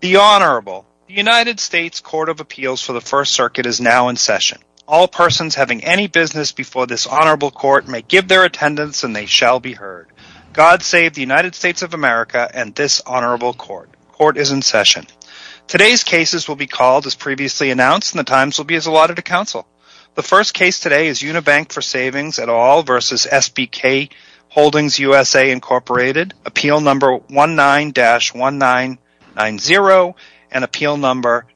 The United States Court of Appeals for the First Circuit is now in session. All persons having any business before this honorable court may give their attendance and they shall be heard. God save the United States of America and this honorable court. Court is in session. Today's cases will be called as previously announced and the times will be as allotted to counsel. The first case today is Unibank for Savings et al. v. SBK Holdings USA, Inc. Appeal No. 19-1990 and Appeal No.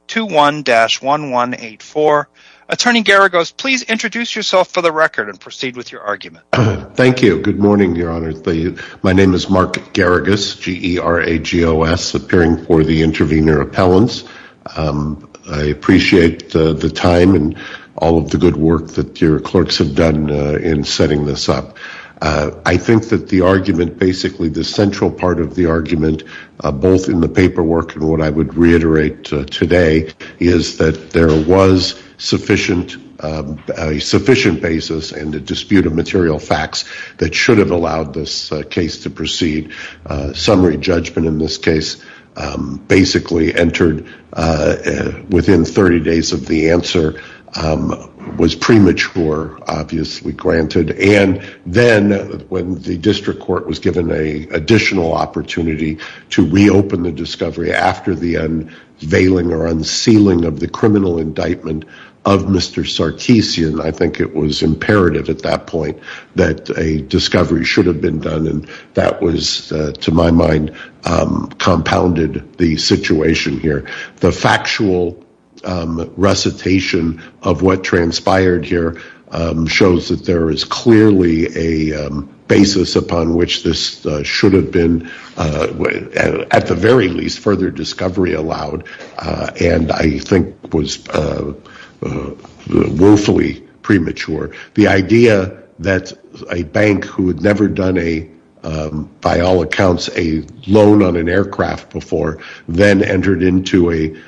21-1184. Attorney Garagos, please introduce yourself for the record and proceed with your argument. Thank you. Good morning, Your Honor. My name is Mark Garagos, G-E-R-A-G-O-S, appearing for the intervener appellants. I appreciate the time and all of the good work that your clerks have done in setting this up. I think that the argument, basically the central part of the argument, both in the paperwork and what I would reiterate today, is that there was sufficient basis and a dispute of material facts that should have allowed this case to proceed. Summary judgment in this case basically entered within 30 days of the answer, was premature, obviously, granted, and then when the district court was given an additional opportunity to reopen the discovery after the unveiling or unsealing of the criminal indictment of Mr. Sarkeesian, I think it was imperative at that point that a discovery should have been done, and that was, to my mind, compounded the situation here. The factual recitation of what transpired here shows that there is clearly a basis upon which this should have been, at the very least, further discovery allowed, and I think was woefully premature. The idea that a bank who had never done a, by all accounts, a loan on an aircraft before, then entered into an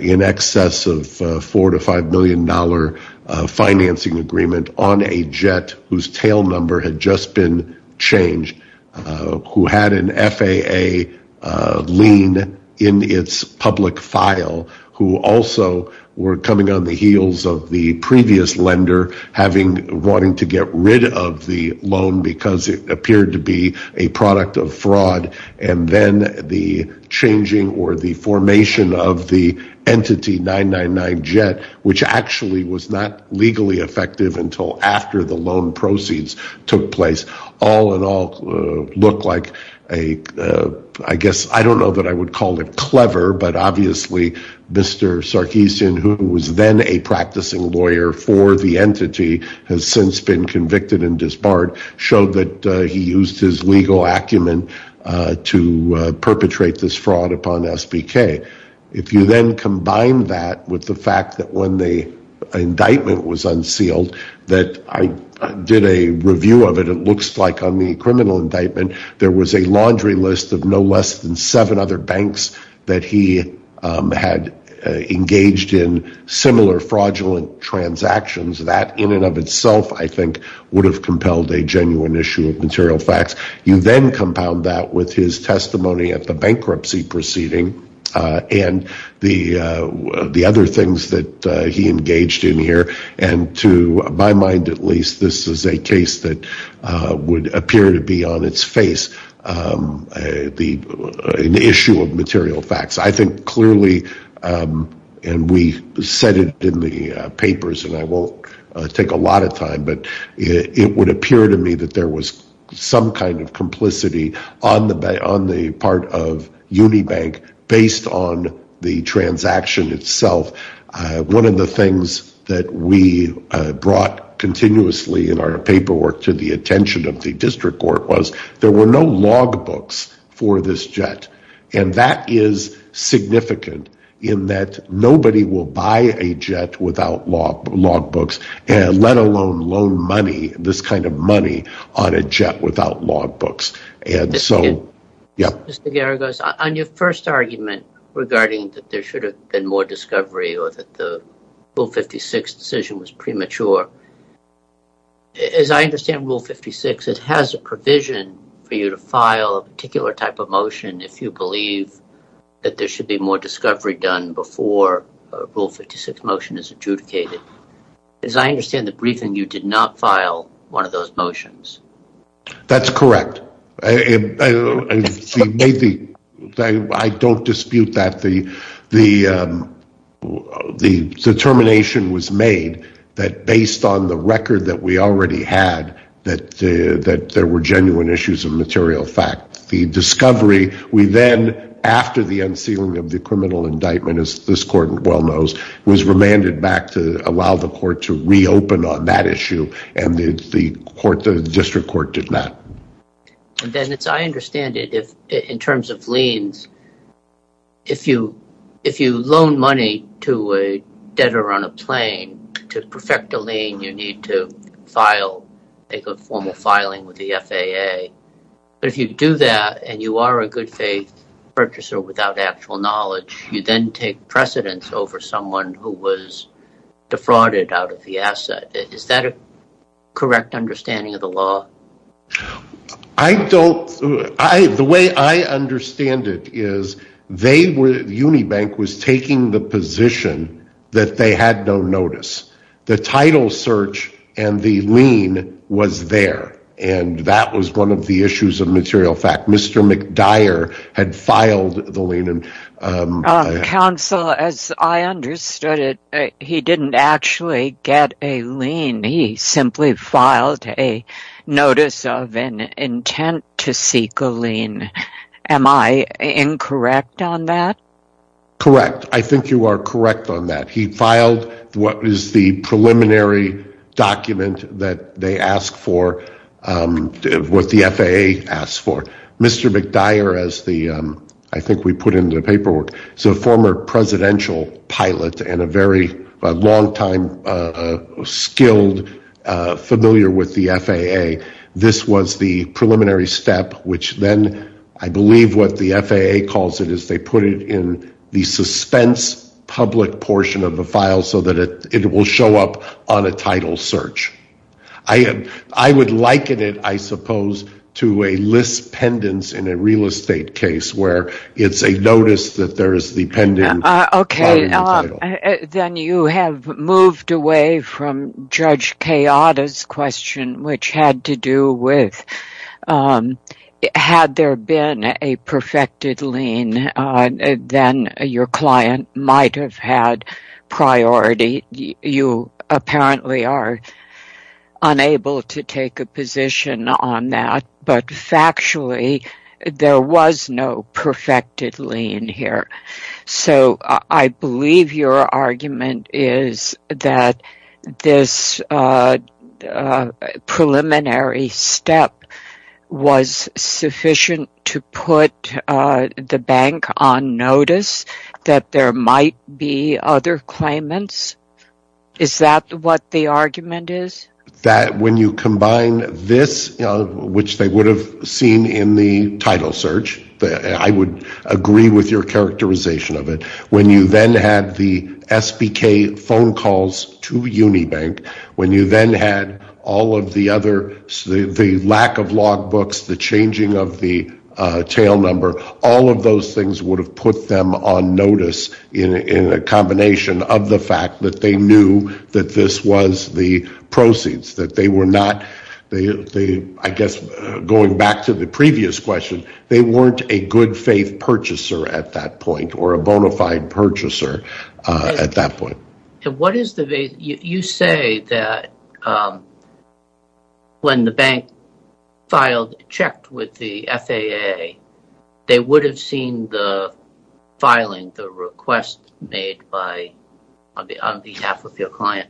in excess of $4 to $5 million financing agreement on a jet, whose tail number had just been changed, who had an FAA lien in its public file, who also were coming on the heels of the previous lender wanting to get rid of the loan because it appeared to be a product of fraud, and then the changing or the formation of the Entity 999 jet, which actually was not legally effective until after the loan proceeds took place, all in all looked like a, I guess, I don't know that I would call it clever, but obviously Mr. Sarkeesian, who was then a practicing lawyer for the Entity, has since been convicted and disbarred, showed that he used his legal acumen to perpetrate this fraud upon SBK. If you then combine that with the fact that when the indictment was unsealed, that I did a review of it, it looks like on the criminal indictment, there was a laundry list of no less than seven other banks that he had engaged in similar fraudulent transactions. That in and of itself, I think, would have compelled a genuine issue of material facts. You then compound that with his testimony at the bankruptcy proceeding and the other things that he engaged in here, and to my mind at least, this is a case that would appear to be on its face, an issue of material facts. I think clearly, and we said it in the papers and I won't take a lot of time, but it would appear to me that there was some kind of complicity on the part of Unibank based on the transaction itself. One of the things that we brought continuously in our paperwork to the attention of the district court was there were no log books for this jet. That is significant in that nobody will buy a jet without log books, let alone loan money, this kind of money, on a jet without log books. Mr. Garagos, on your first argument regarding that there should have been more discovery or that the Rule 56 decision was premature, as I understand Rule 56, it has a provision for you to file a particular type of motion if you believe that there should be more discovery done before a Rule 56 motion is adjudicated. As I understand the briefing, you did not file one of those motions. That's correct. I don't dispute that the determination was made that based on the record that we already had that there were genuine issues of material fact. The discovery, we then, after the unsealing of the criminal indictment, as this court well knows, was remanded back to allow the court to reopen on that issue, and the district court did not. Dennis, I understand that in terms of liens, if you loan money to a debtor on a plane to perfect a lien, you need to make a formal filing with the FAA. But if you do that and you are a good faith purchaser without actual knowledge, you then take precedence over someone who was defrauded out of the asset. Is that a correct understanding of the law? The way I understand it is Unibank was taking the position that they had no notice. The title search and the lien was there, and that was one of the issues of material fact. Mr. McDyer had filed the lien. Counsel, as I understood it, he didn't actually get a lien. He simply filed a notice of an intent to seek a lien. Am I incorrect on that? Correct. I think you are correct on that. He filed what was the preliminary document that they asked for, what the FAA asked for. Mr. McDyer, as I think we put in the paperwork, is a former presidential pilot and a very long-time skilled familiar with the FAA. This was the preliminary step, which then I believe what the FAA calls it, is they put it in the suspense public portion of the file so that it will show up on a title search. I would liken it, I suppose, to a list pendants in a real estate case where it's a notice that there is the pending title. Then you have moved away from Judge Kayada's question, which had to do with had there been a perfected lien, then your client might have had priority. You apparently are unable to take a position on that. But factually, there was no perfected lien here. I believe your argument is that this preliminary step was sufficient to put the bank on notice that there might be other claimants. Is that what the argument is? That when you combine this, which they would have seen in the title search, I would agree with your characterization of it, when you then had the SBK phone calls to Unibank, when you then had all of the other, the lack of logbooks, the changing of the tail number, all of those things would have put them on notice in a combination of the fact that they knew that this was the proceeds. That they were not, I guess, going back to the previous question, they weren't a good faith purchaser at that point or a bona fide purchaser at that point. You say that when the bank filed, checked with the FAA, they would have seen the filing, the request made on behalf of your client.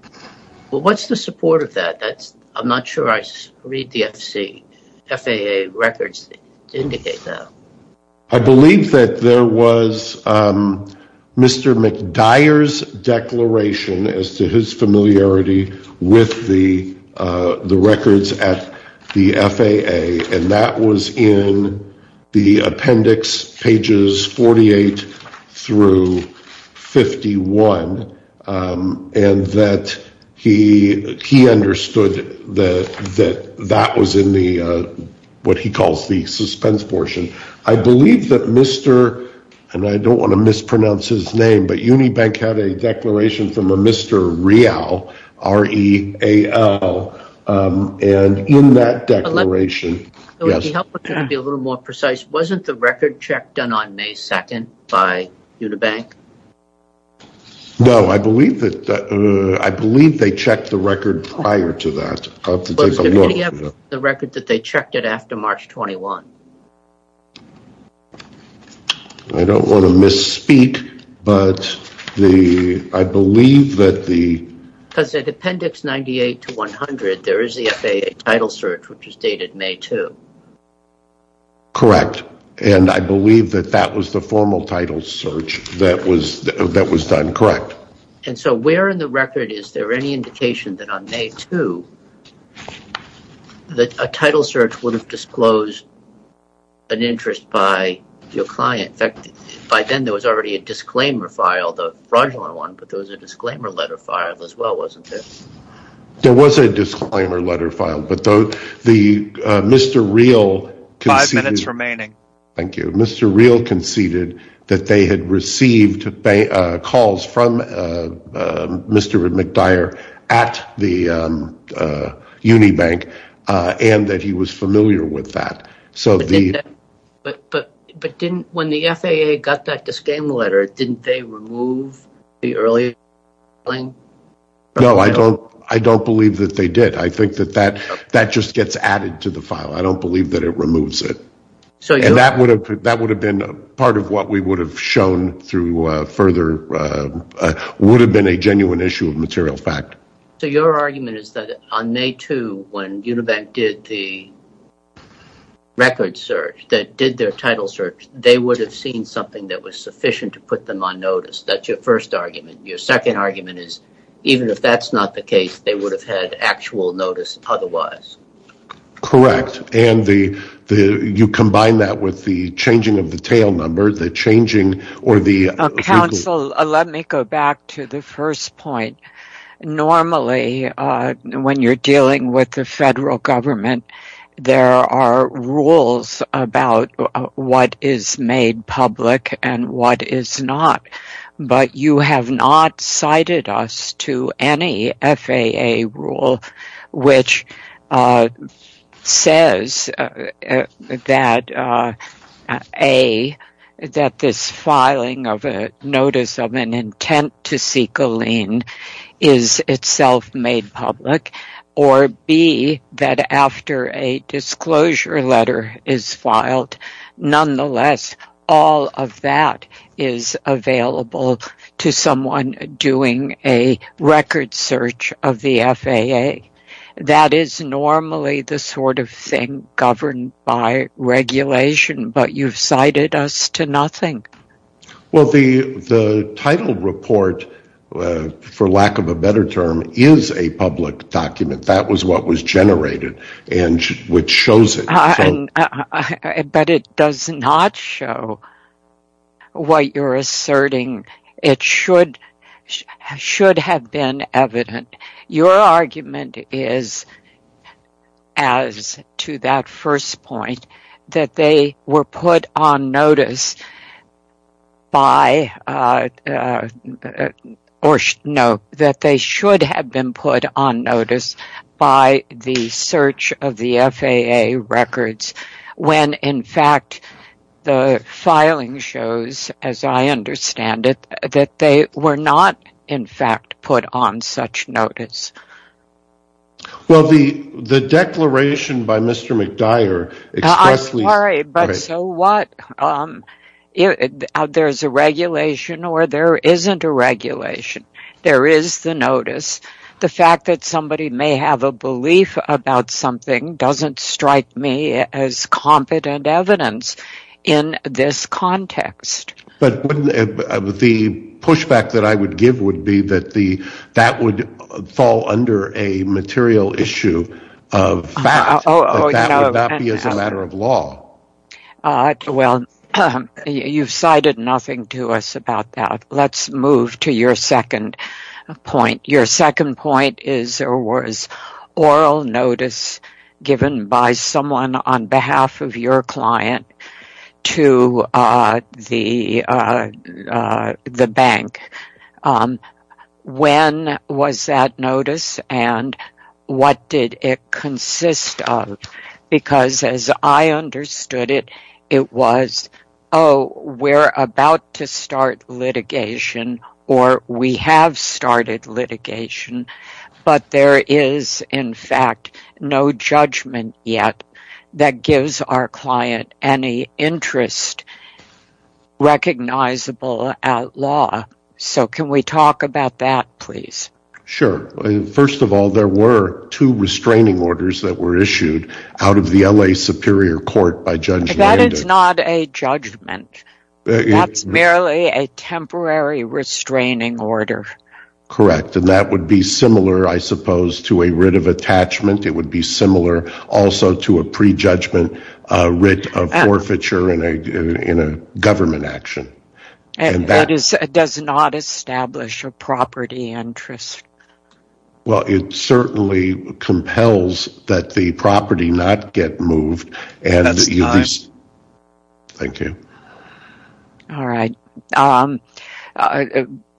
What's the support of that? I'm not sure I read the FAA records to indicate that. I believe that there was Mr. McDyer's declaration as to his familiarity with the records at the FAA, and that was in the appendix pages 48 through 51, and that he understood that that was in what he calls the suspense portion. I believe that Mr., and I don't want to mispronounce his name, but Unibank had a declaration from a Mr. Real, R-E-A-L, and in that declaration, wasn't the record check done on May 2nd by Unibank? No, I believe they checked the record prior to that. Was there any record that they checked it after March 21? I don't want to misspeak, but I believe that the... There is the FAA title search, which is dated May 2. Correct, and I believe that that was the formal title search that was done, correct. And so where in the record is there any indication that on May 2, that a title search would have disclosed an interest by your client? In fact, by then there was already a disclaimer file, the fraudulent one, but there was a disclaimer letter file as well, wasn't there? There was a disclaimer letter file, but Mr. Real conceded... Five minutes remaining. Thank you. Mr. Real conceded that they had received calls from Mr. McDyer at the Unibank, and that he was familiar with that. But when the FAA got that disclaimer letter, didn't they remove the earlier filing? No, I don't believe that they did. I think that that just gets added to the file. I don't believe that it removes it. And that would have been part of what we would have shown through further... would have been a genuine issue of material fact. So your argument is that on May 2, when Unibank did the record search, that did their title search, they would have seen something that was sufficient to put them on notice. That's your first argument. Your second argument is even if that's not the case, they would have had actual notice otherwise. Correct. And you combine that with the changing of the tail number, the changing or the... Let me go back to the first point. Normally, when you're dealing with the federal government, there are rules about what is made public and what is not. But you have not cited us to any FAA rule which says that, A, that this filing of a notice of an intent to seek a lien is itself made public, or B, that after a disclosure letter is filed, nonetheless, all of that is available to someone doing a record search of the FAA. That is normally the sort of thing governed by regulation, but you've cited us to nothing. Well, the title report, for lack of a better term, is a public document. That was what was generated and which shows it. But it does not show what you're asserting. It should have been evident. Your argument is, as to that first point, that they should have been put on notice by the search of the FAA records, when, in fact, the filing shows, as I understand it, that they were not, in fact, put on such notice. Well, the declaration by Mr. McDyer expressly... I'm sorry, but so what? There's a regulation or there isn't a regulation. There is the notice. The fact that somebody may have a belief about something doesn't strike me as competent evidence in this context. But the pushback that I would give would be that that would fall under a material issue of fact. That would not be as a matter of law. Well, you've cited nothing to us about that. Let's move to your second point. Your second point is there was oral notice given by someone on behalf of your client to the bank. When was that notice and what did it consist of? Because, as I understood it, it was, oh, we're about to start litigation or we have started litigation. But there is, in fact, no judgment yet that gives our client any interest recognizable at law. So can we talk about that, please? Sure. First of all, there were two restraining orders that were issued out of the L.A. Superior Court by Judge Landis. That is not a judgment. That's merely a temporary restraining order. Correct. And that would be similar, I suppose, to a writ of attachment. It would be similar also to a prejudgment writ of forfeiture in a government action. And that does not establish a property interest. Well, it certainly compels that the property not get moved. That's time. Thank you. All right.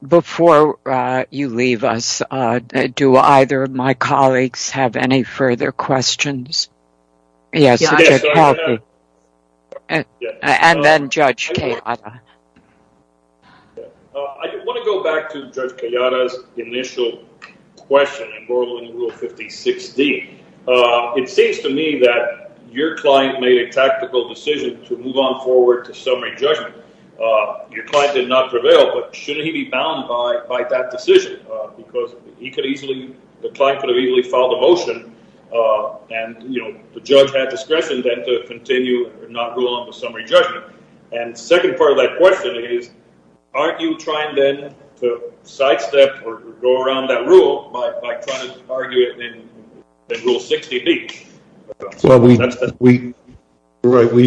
Before you leave us, do either of my colleagues have any further questions? Yes. And then Judge Kayada. I want to go back to Judge Kayada's initial question in Borlawen Rule 56D. It seems to me that your client made a tactical decision to move on forward to summary judgment. Your client did not prevail, but shouldn't he be bound by that decision? Because he could easily—the client could have easily filed a motion and, you know, the judge had discretion then to continue and not rule on the summary judgment. And the second part of that question is, aren't you trying then to sidestep or go around that rule by trying to argue it in Rule 68? Well, we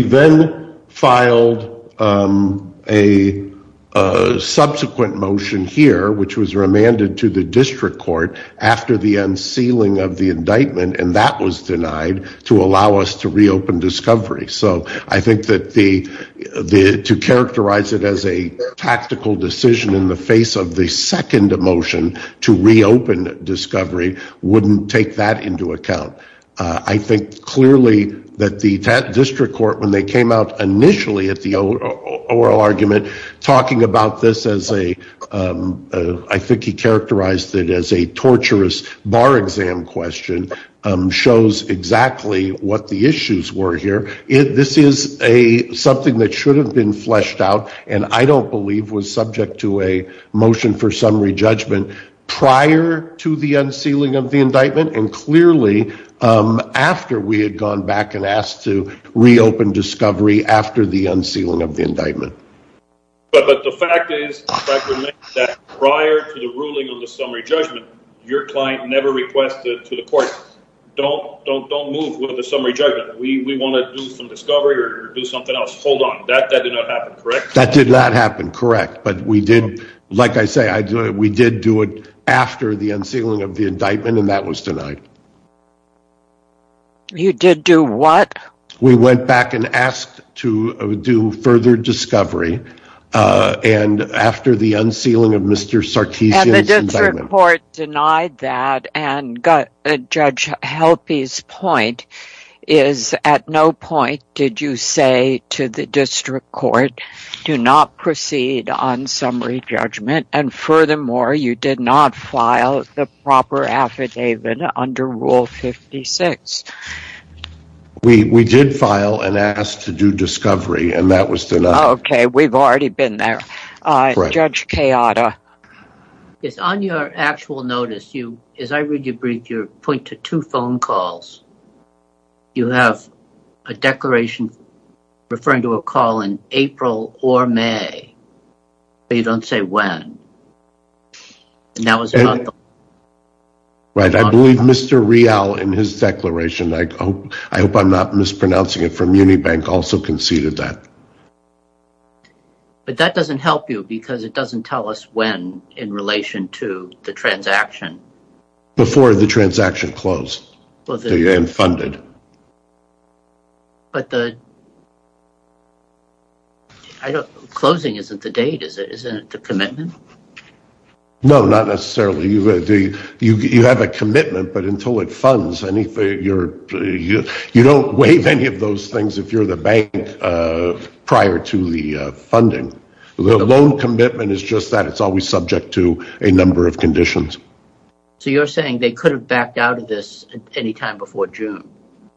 then filed a subsequent motion here, which was remanded to the district court after the unsealing of the indictment, and that was denied to allow us to reopen discovery. So I think that to characterize it as a tactical decision in the face of the second motion to reopen discovery wouldn't take that into account. I think clearly that the district court, when they came out initially at the oral argument, talking about this as a—I think he characterized it as a torturous bar exam question, shows exactly what the issues were here. This is something that should have been fleshed out and I don't believe was subject to a motion for summary judgment prior to the unsealing of the indictment and clearly after we had gone back and asked to reopen discovery after the unsealing of the indictment. But the fact is that prior to the ruling on the summary judgment, your client never requested to the court, don't move with the summary judgment. We want to do some discovery or do something else. Hold on, that did not happen, correct? That did not happen, correct. But we did, like I say, we did do it after the unsealing of the indictment and that was denied. You did do what? We went back and asked to do further discovery and after the unsealing of Mr. Sartesian's indictment— And the district court denied that and Judge Helpe's point is at no point did you say to the district court, do not proceed on summary judgment and furthermore, you did not file the proper affidavit under Rule 56. We did file and ask to do discovery and that was denied. Okay, we've already been there. Judge Kayada. Yes, on your actual notice, as I read your brief, you point to two phone calls. You have a declaration referring to a call in April or May, but you don't say when. Right, I believe Mr. Rial in his declaration, I hope I'm not mispronouncing it, from Unibank also conceded that. But that doesn't help you because it doesn't tell us when in relation to the transaction. Before the transaction closed and funded. But the closing isn't the date, isn't it the commitment? No, not necessarily. You have a commitment, but until it funds, you don't waive any of those things if you're the bank prior to the funding. The loan commitment is just that it's always subject to a number of conditions. So you're saying they could have backed out of this any time before June?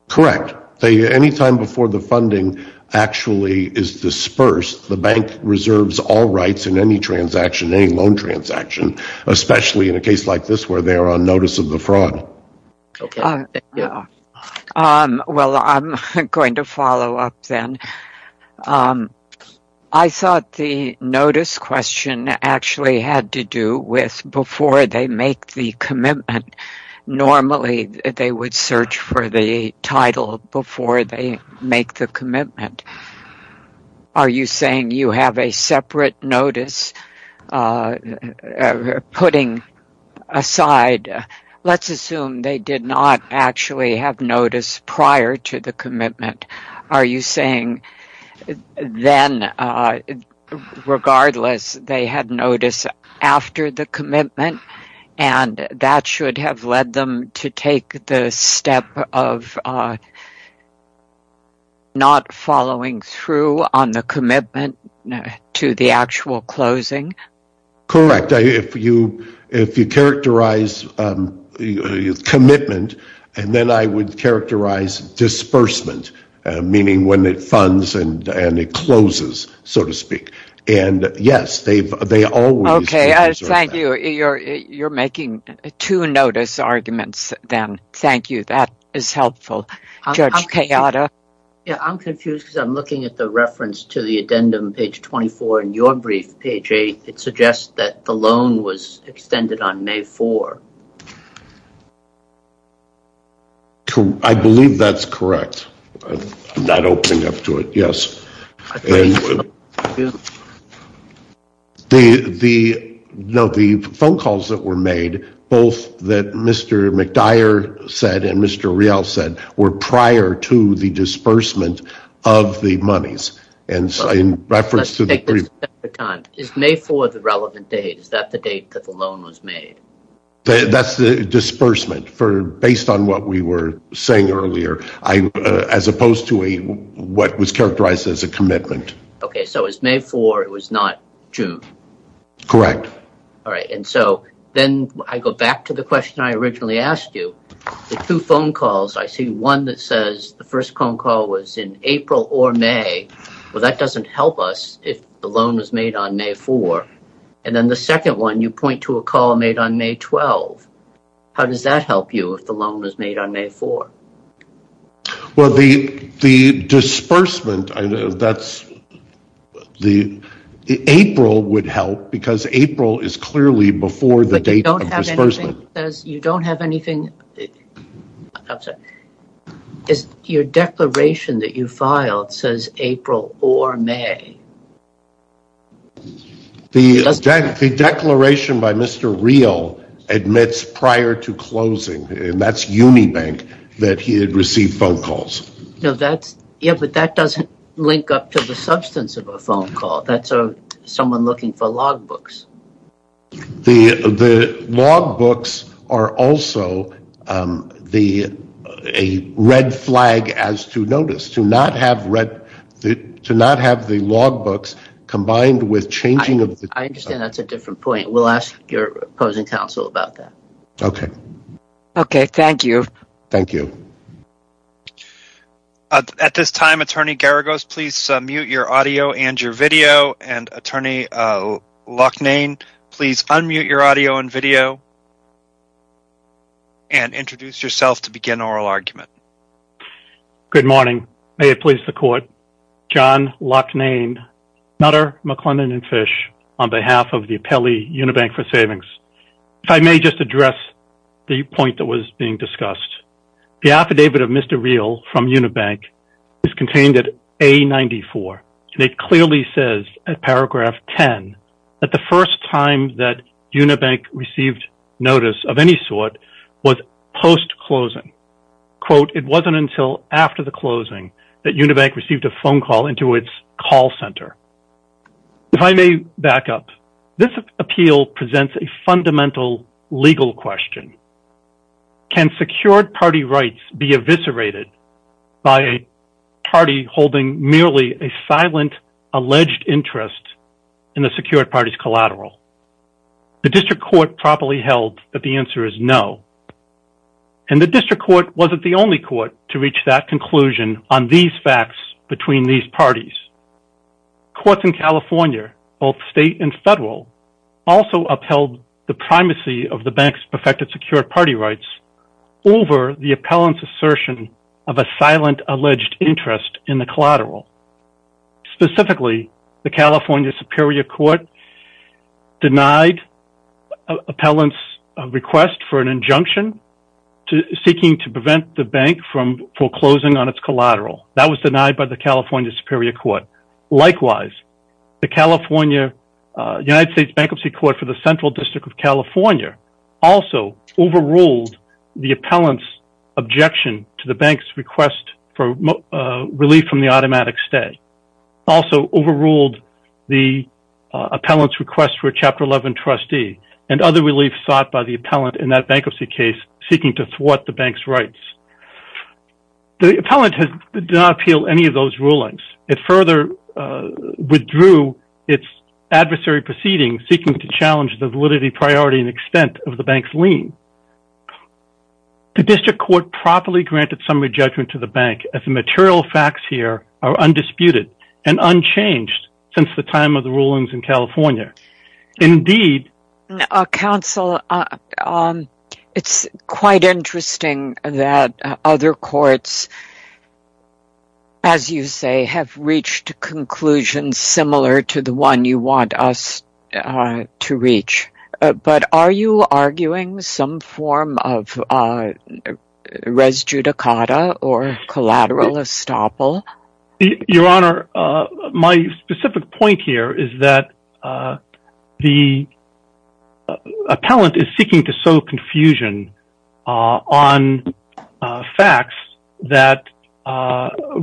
Correct. Any time before the funding actually is dispersed, the bank reserves all rights in any transaction, any loan transaction, especially in a case like this where they are on notice of the fraud. Well, I'm going to follow up then. I thought the notice question actually had to do with before they make the commitment. Normally, they would search for the title before they make the commitment. Are you saying you have a separate notice putting aside? Let's assume they did not actually have notice prior to the commitment. Are you saying then, regardless, they had notice after the commitment and that should have led them to take the step of not following through on the commitment to the actual closing? Correct. If you characterize commitment, then I would characterize disbursement, meaning when it funds and it closes, so to speak. Yes, they always reserve that. Okay. Thank you. You're making two notice arguments then. Thank you. That is helpful. Judge Kayada? I'm confused because I'm looking at the reference to the addendum, page 24, in your brief, page 8. It suggests that the loan was extended on May 4. I believe that's correct. I'm not opening up to it. Yes. The phone calls that were made, both that Mr. McDyer said and Mr. Real said, were prior to the disbursement of the monies. Is May 4 the relevant date? Is that the date that the loan was made? That's the disbursement, based on what we were saying earlier, as opposed to what was characterized as a commitment. Okay, so it was May 4. It was not June. Correct. Then I go back to the question I originally asked you. The two phone calls, I see one that says the first phone call was in April or May. Well, that doesn't help us if the loan was made on May 4. Then the second one, you point to a call made on May 12. How does that help you if the loan was made on May 4? Well, the disbursement, April would help, because April is clearly before the date of disbursement. But you don't have anything, your declaration that you filed says April or May. The declaration by Mr. Real admits prior to closing, and that's Unibank, that he had received phone calls. Yeah, but that doesn't link up to the substance of a phone call. That's someone looking for logbooks. The logbooks are also a red flag as to notice, to not have the logbooks combined with changing of the... I understand that's a different point. We'll ask your opposing counsel about that. Okay. Okay, thank you. Thank you. At this time, Attorney Garagos, please mute your audio and your video. And, Attorney Loughnane, please unmute your audio and video and introduce yourself to begin oral argument. Good morning. May it please the court. John Loughnane, Nutter, McLennan, and Fish, on behalf of the appellee Unibank for Savings. If I may just address the point that was being discussed. The affidavit of Mr. Real from Unibank is contained at A-94. It clearly says at paragraph 10 that the first time that Unibank received notice of any sort was post-closing. Quote, it wasn't until after the closing that Unibank received a phone call into its call center. If I may back up, this appeal presents a fundamental legal question. Can secured party rights be eviscerated by a party holding merely a silent alleged interest in a secured party's collateral? The district court properly held that the answer is no. And the district court wasn't the only court to reach that conclusion on these facts between these parties. Courts in California, both state and federal, also upheld the primacy of the bank's perfected secured party rights over the appellant's assertion of a silent alleged interest in the collateral. Specifically, the California Superior Court denied appellant's request for an injunction seeking to prevent the bank from foreclosing on its collateral. That was denied by the California Superior Court. Likewise, the United States Bankruptcy Court for the Central District of California also overruled the appellant's objection to the bank's request for relief from the automatic stay. Also overruled the appellant's request for a Chapter 11 trustee and other relief sought by the appellant in that bankruptcy case seeking to thwart the bank's rights. The appellant did not appeal any of those rulings. It further withdrew its adversary proceeding seeking to challenge the validity, priority, and extent of the bank's lien. The district court properly granted summary judgment to the bank as the material facts here are undisputed and unchanged since the time of the rulings in California. Counsel, it's quite interesting that other courts, as you say, have reached conclusions similar to the one you want us to reach. But are you arguing some form of res judicata or collateral estoppel? Your Honor, my specific point here is that the appellant is seeking to sow confusion on facts that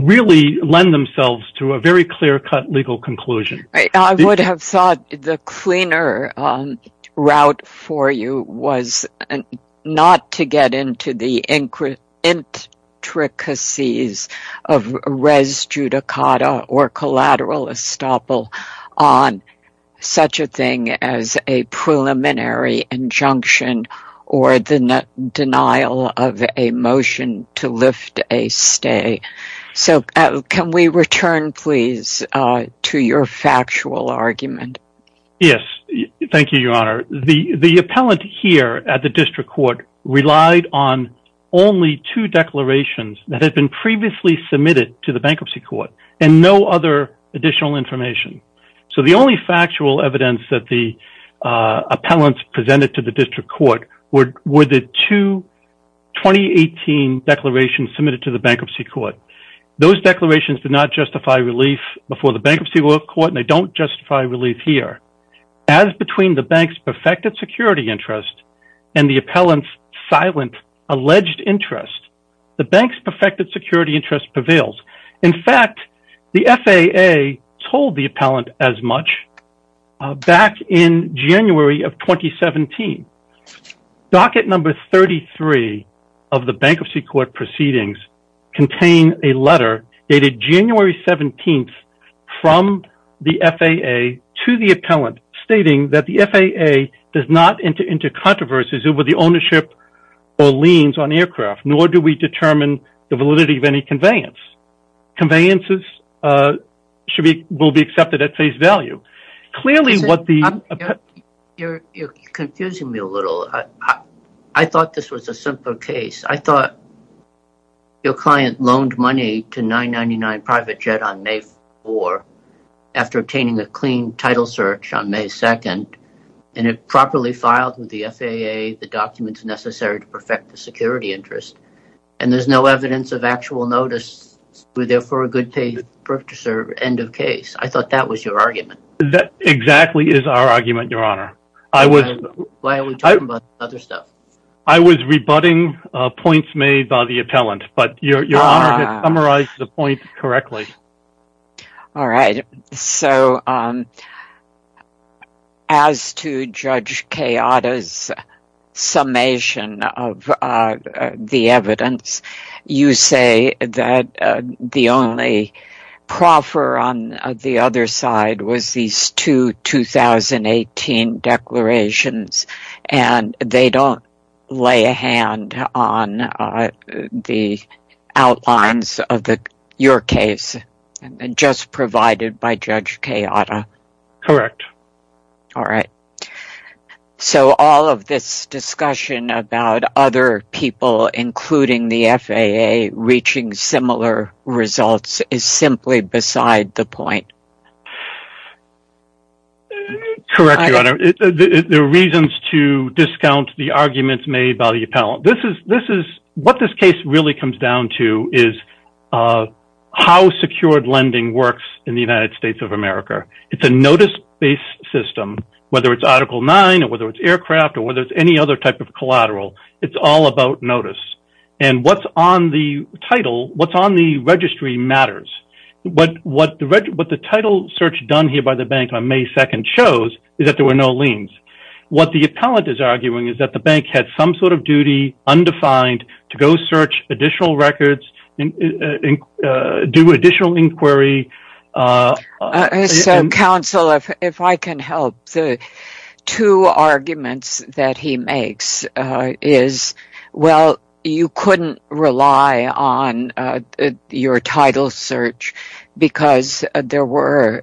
really lend themselves to a very clear-cut legal conclusion. I would have thought the cleaner route for you was not to get into the intricacies of res judicata or collateral estoppel on such a thing as a preliminary injunction or the denial of a motion to lift a stay. Can we return, please, to your factual argument? Yes. Thank you, Your Honor. The appellant here at the district court relied on only two declarations that had been previously submitted to the bankruptcy court and no other additional information. So the only factual evidence that the appellant presented to the district court were the two 2018 declarations submitted to the bankruptcy court. Those declarations did not justify relief before the bankruptcy court and they don't justify relief here. As between the bank's perfected security interest and the appellant's silent alleged interest, the bank's perfected security interest prevails. In fact, the FAA told the appellant as much back in January of 2017. Docket number 33 of the bankruptcy court proceedings contained a letter dated January 17th from the FAA to the appellant stating that the FAA does not enter into controversies over the ownership or liens on aircraft, nor do we determine the validity of any conveyance. Conveyances will be accepted at face value. You're confusing me a little. I thought this was a simple case. I thought your client loaned money to 999 Private Jet on May 4th after obtaining a clean title search on May 2nd and it properly filed with the FAA the documents necessary to perfect the security interest. And there's no evidence of actual notice. Were there for a good-paying purchaser end of case? I thought that was your argument. That exactly is our argument, Your Honor. Why are we talking about other stuff? I was rebutting points made by the appellant, but Your Honor had summarized the point correctly. All right. As to Judge Kayada's summation of the evidence, you say that the only proffer on the other side was these two 2018 declarations and they don't lay a hand on the outlines of your case. Just provided by Judge Kayada. Correct. All right. So all of this discussion about other people, including the FAA, reaching similar results is simply beside the point. Correct, Your Honor. The reasons to discount the arguments made by the appellant. What this case really comes down to is how secured lending works in the United States of America. It's a notice-based system, whether it's Article 9 or whether it's aircraft or whether it's any other type of collateral. It's all about notice. And what's on the title, what's on the registry matters. What the title search done here by the bank on May 2nd shows is that there were no liens. What the appellant is arguing is that the bank had some sort of duty, undefined, to go search additional records, do additional inquiry. So, counsel, if I can help, the two arguments that he makes is, well, you couldn't rely on your title search because there were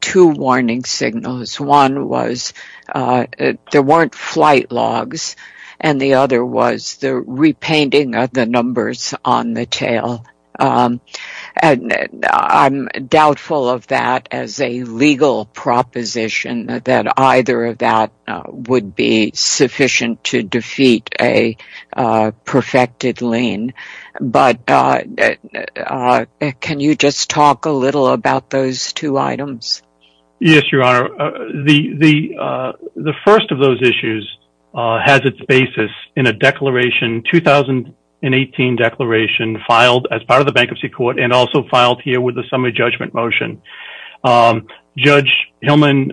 two warning signals. One was there weren't flight logs, and the other was the repainting of the numbers on the tail. And I'm doubtful of that as a legal proposition, that either of that would be sufficient to defeat a perfected lien. But can you just talk a little about those two items? Yes, Your Honor. The first of those issues has its basis in a declaration, 2018 declaration, filed as part of the Bankruptcy Court and also filed here with a summary judgment motion. Judge Hillman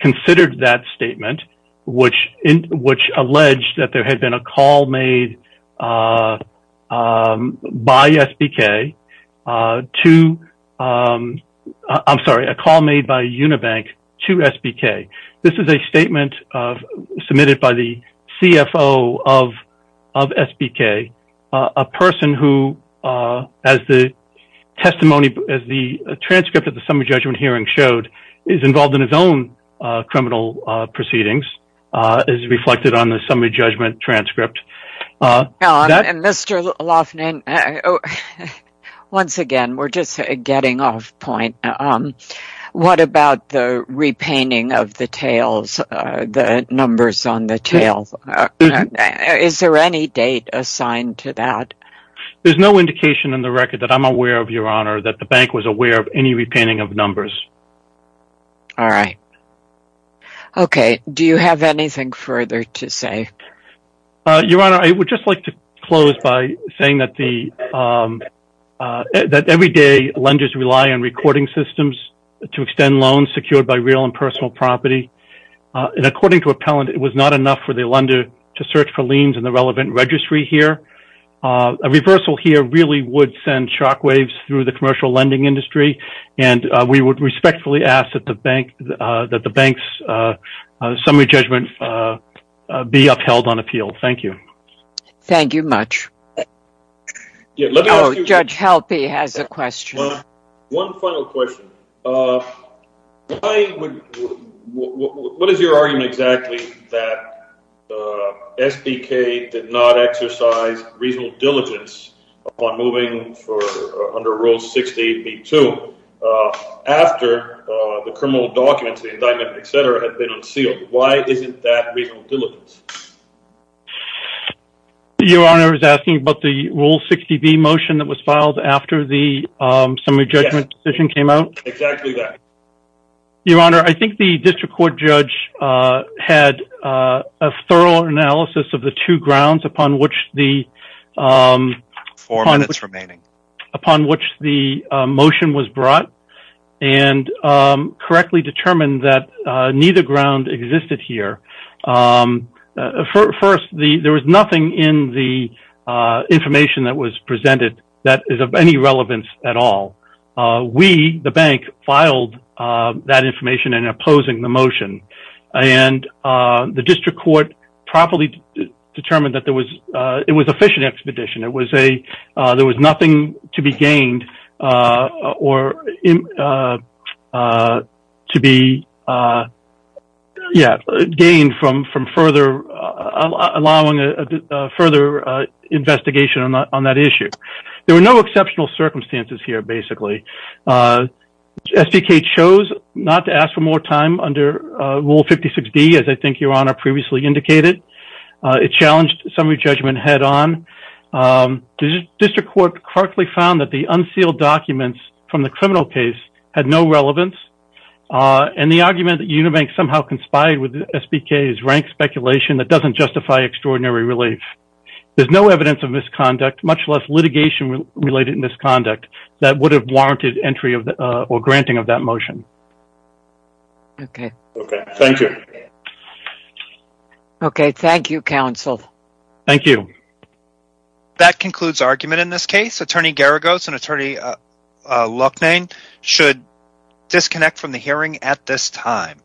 considered that statement, which alleged that there had been a call made by SBK to, I'm sorry, a call made by Unibank to SBK. This is a statement submitted by the CFO of SBK, a person who, as the testimony, as the transcript of the summary judgment hearing showed, is involved in his own criminal proceedings, as reflected on the summary judgment transcript. Mr. Loughnane, once again, we're just getting off point. What about the repainting of the tails, the numbers on the tails? Is there any date assigned to that? There's no indication in the record that I'm aware of, Your Honor, that the Bank was aware of any repainting of numbers. All right. Okay. Do you have anything further to say? Your Honor, I would just like to close by saying that everyday lenders rely on recording systems to extend loans secured by real and personal property. According to appellant, it was not enough for the lender to search for liens in the relevant registry here. A reversal here really would send shockwaves through the commercial lending industry, and we would respectfully ask that the Bank's summary judgment be upheld on appeal. Thank you. Thank you much. Judge Halpy has a question. One final question. What is your argument exactly that SBK did not exercise reasonable diligence on moving under Rule 60b-2 after the criminal documents, the indictment, etc., had been unsealed? Why isn't that reasonable diligence? Your Honor is asking about the Rule 60b motion that was filed after the summary judgment decision came out? Exactly that. Your Honor, I think the district court judge had a thorough analysis of the two grounds upon which the motion was brought and correctly determined that neither ground existed here. First, there was nothing in the information that was presented that is of any relevance at all. We, the Bank, filed that information in opposing the motion, and the district court properly determined that it was a fishing expedition. There was nothing to be gained from further investigation on that issue. There were no exceptional circumstances here, basically. SBK chose not to ask for more time under Rule 56b, as I think Your Honor previously indicated. It challenged summary judgment head-on. The district court correctly found that the unsealed documents from the criminal case had no relevance, and the argument that Unibank somehow conspired with SBK is rank speculation that doesn't justify extraordinary relief. There's no evidence of misconduct, much less litigation-related misconduct, that would have warranted entry or granting of that motion. Okay. Thank you. Okay. Thank you, counsel. Thank you. That concludes argument in this case. Attorney Garagos and Attorney Loughnane should disconnect from the hearing at this time.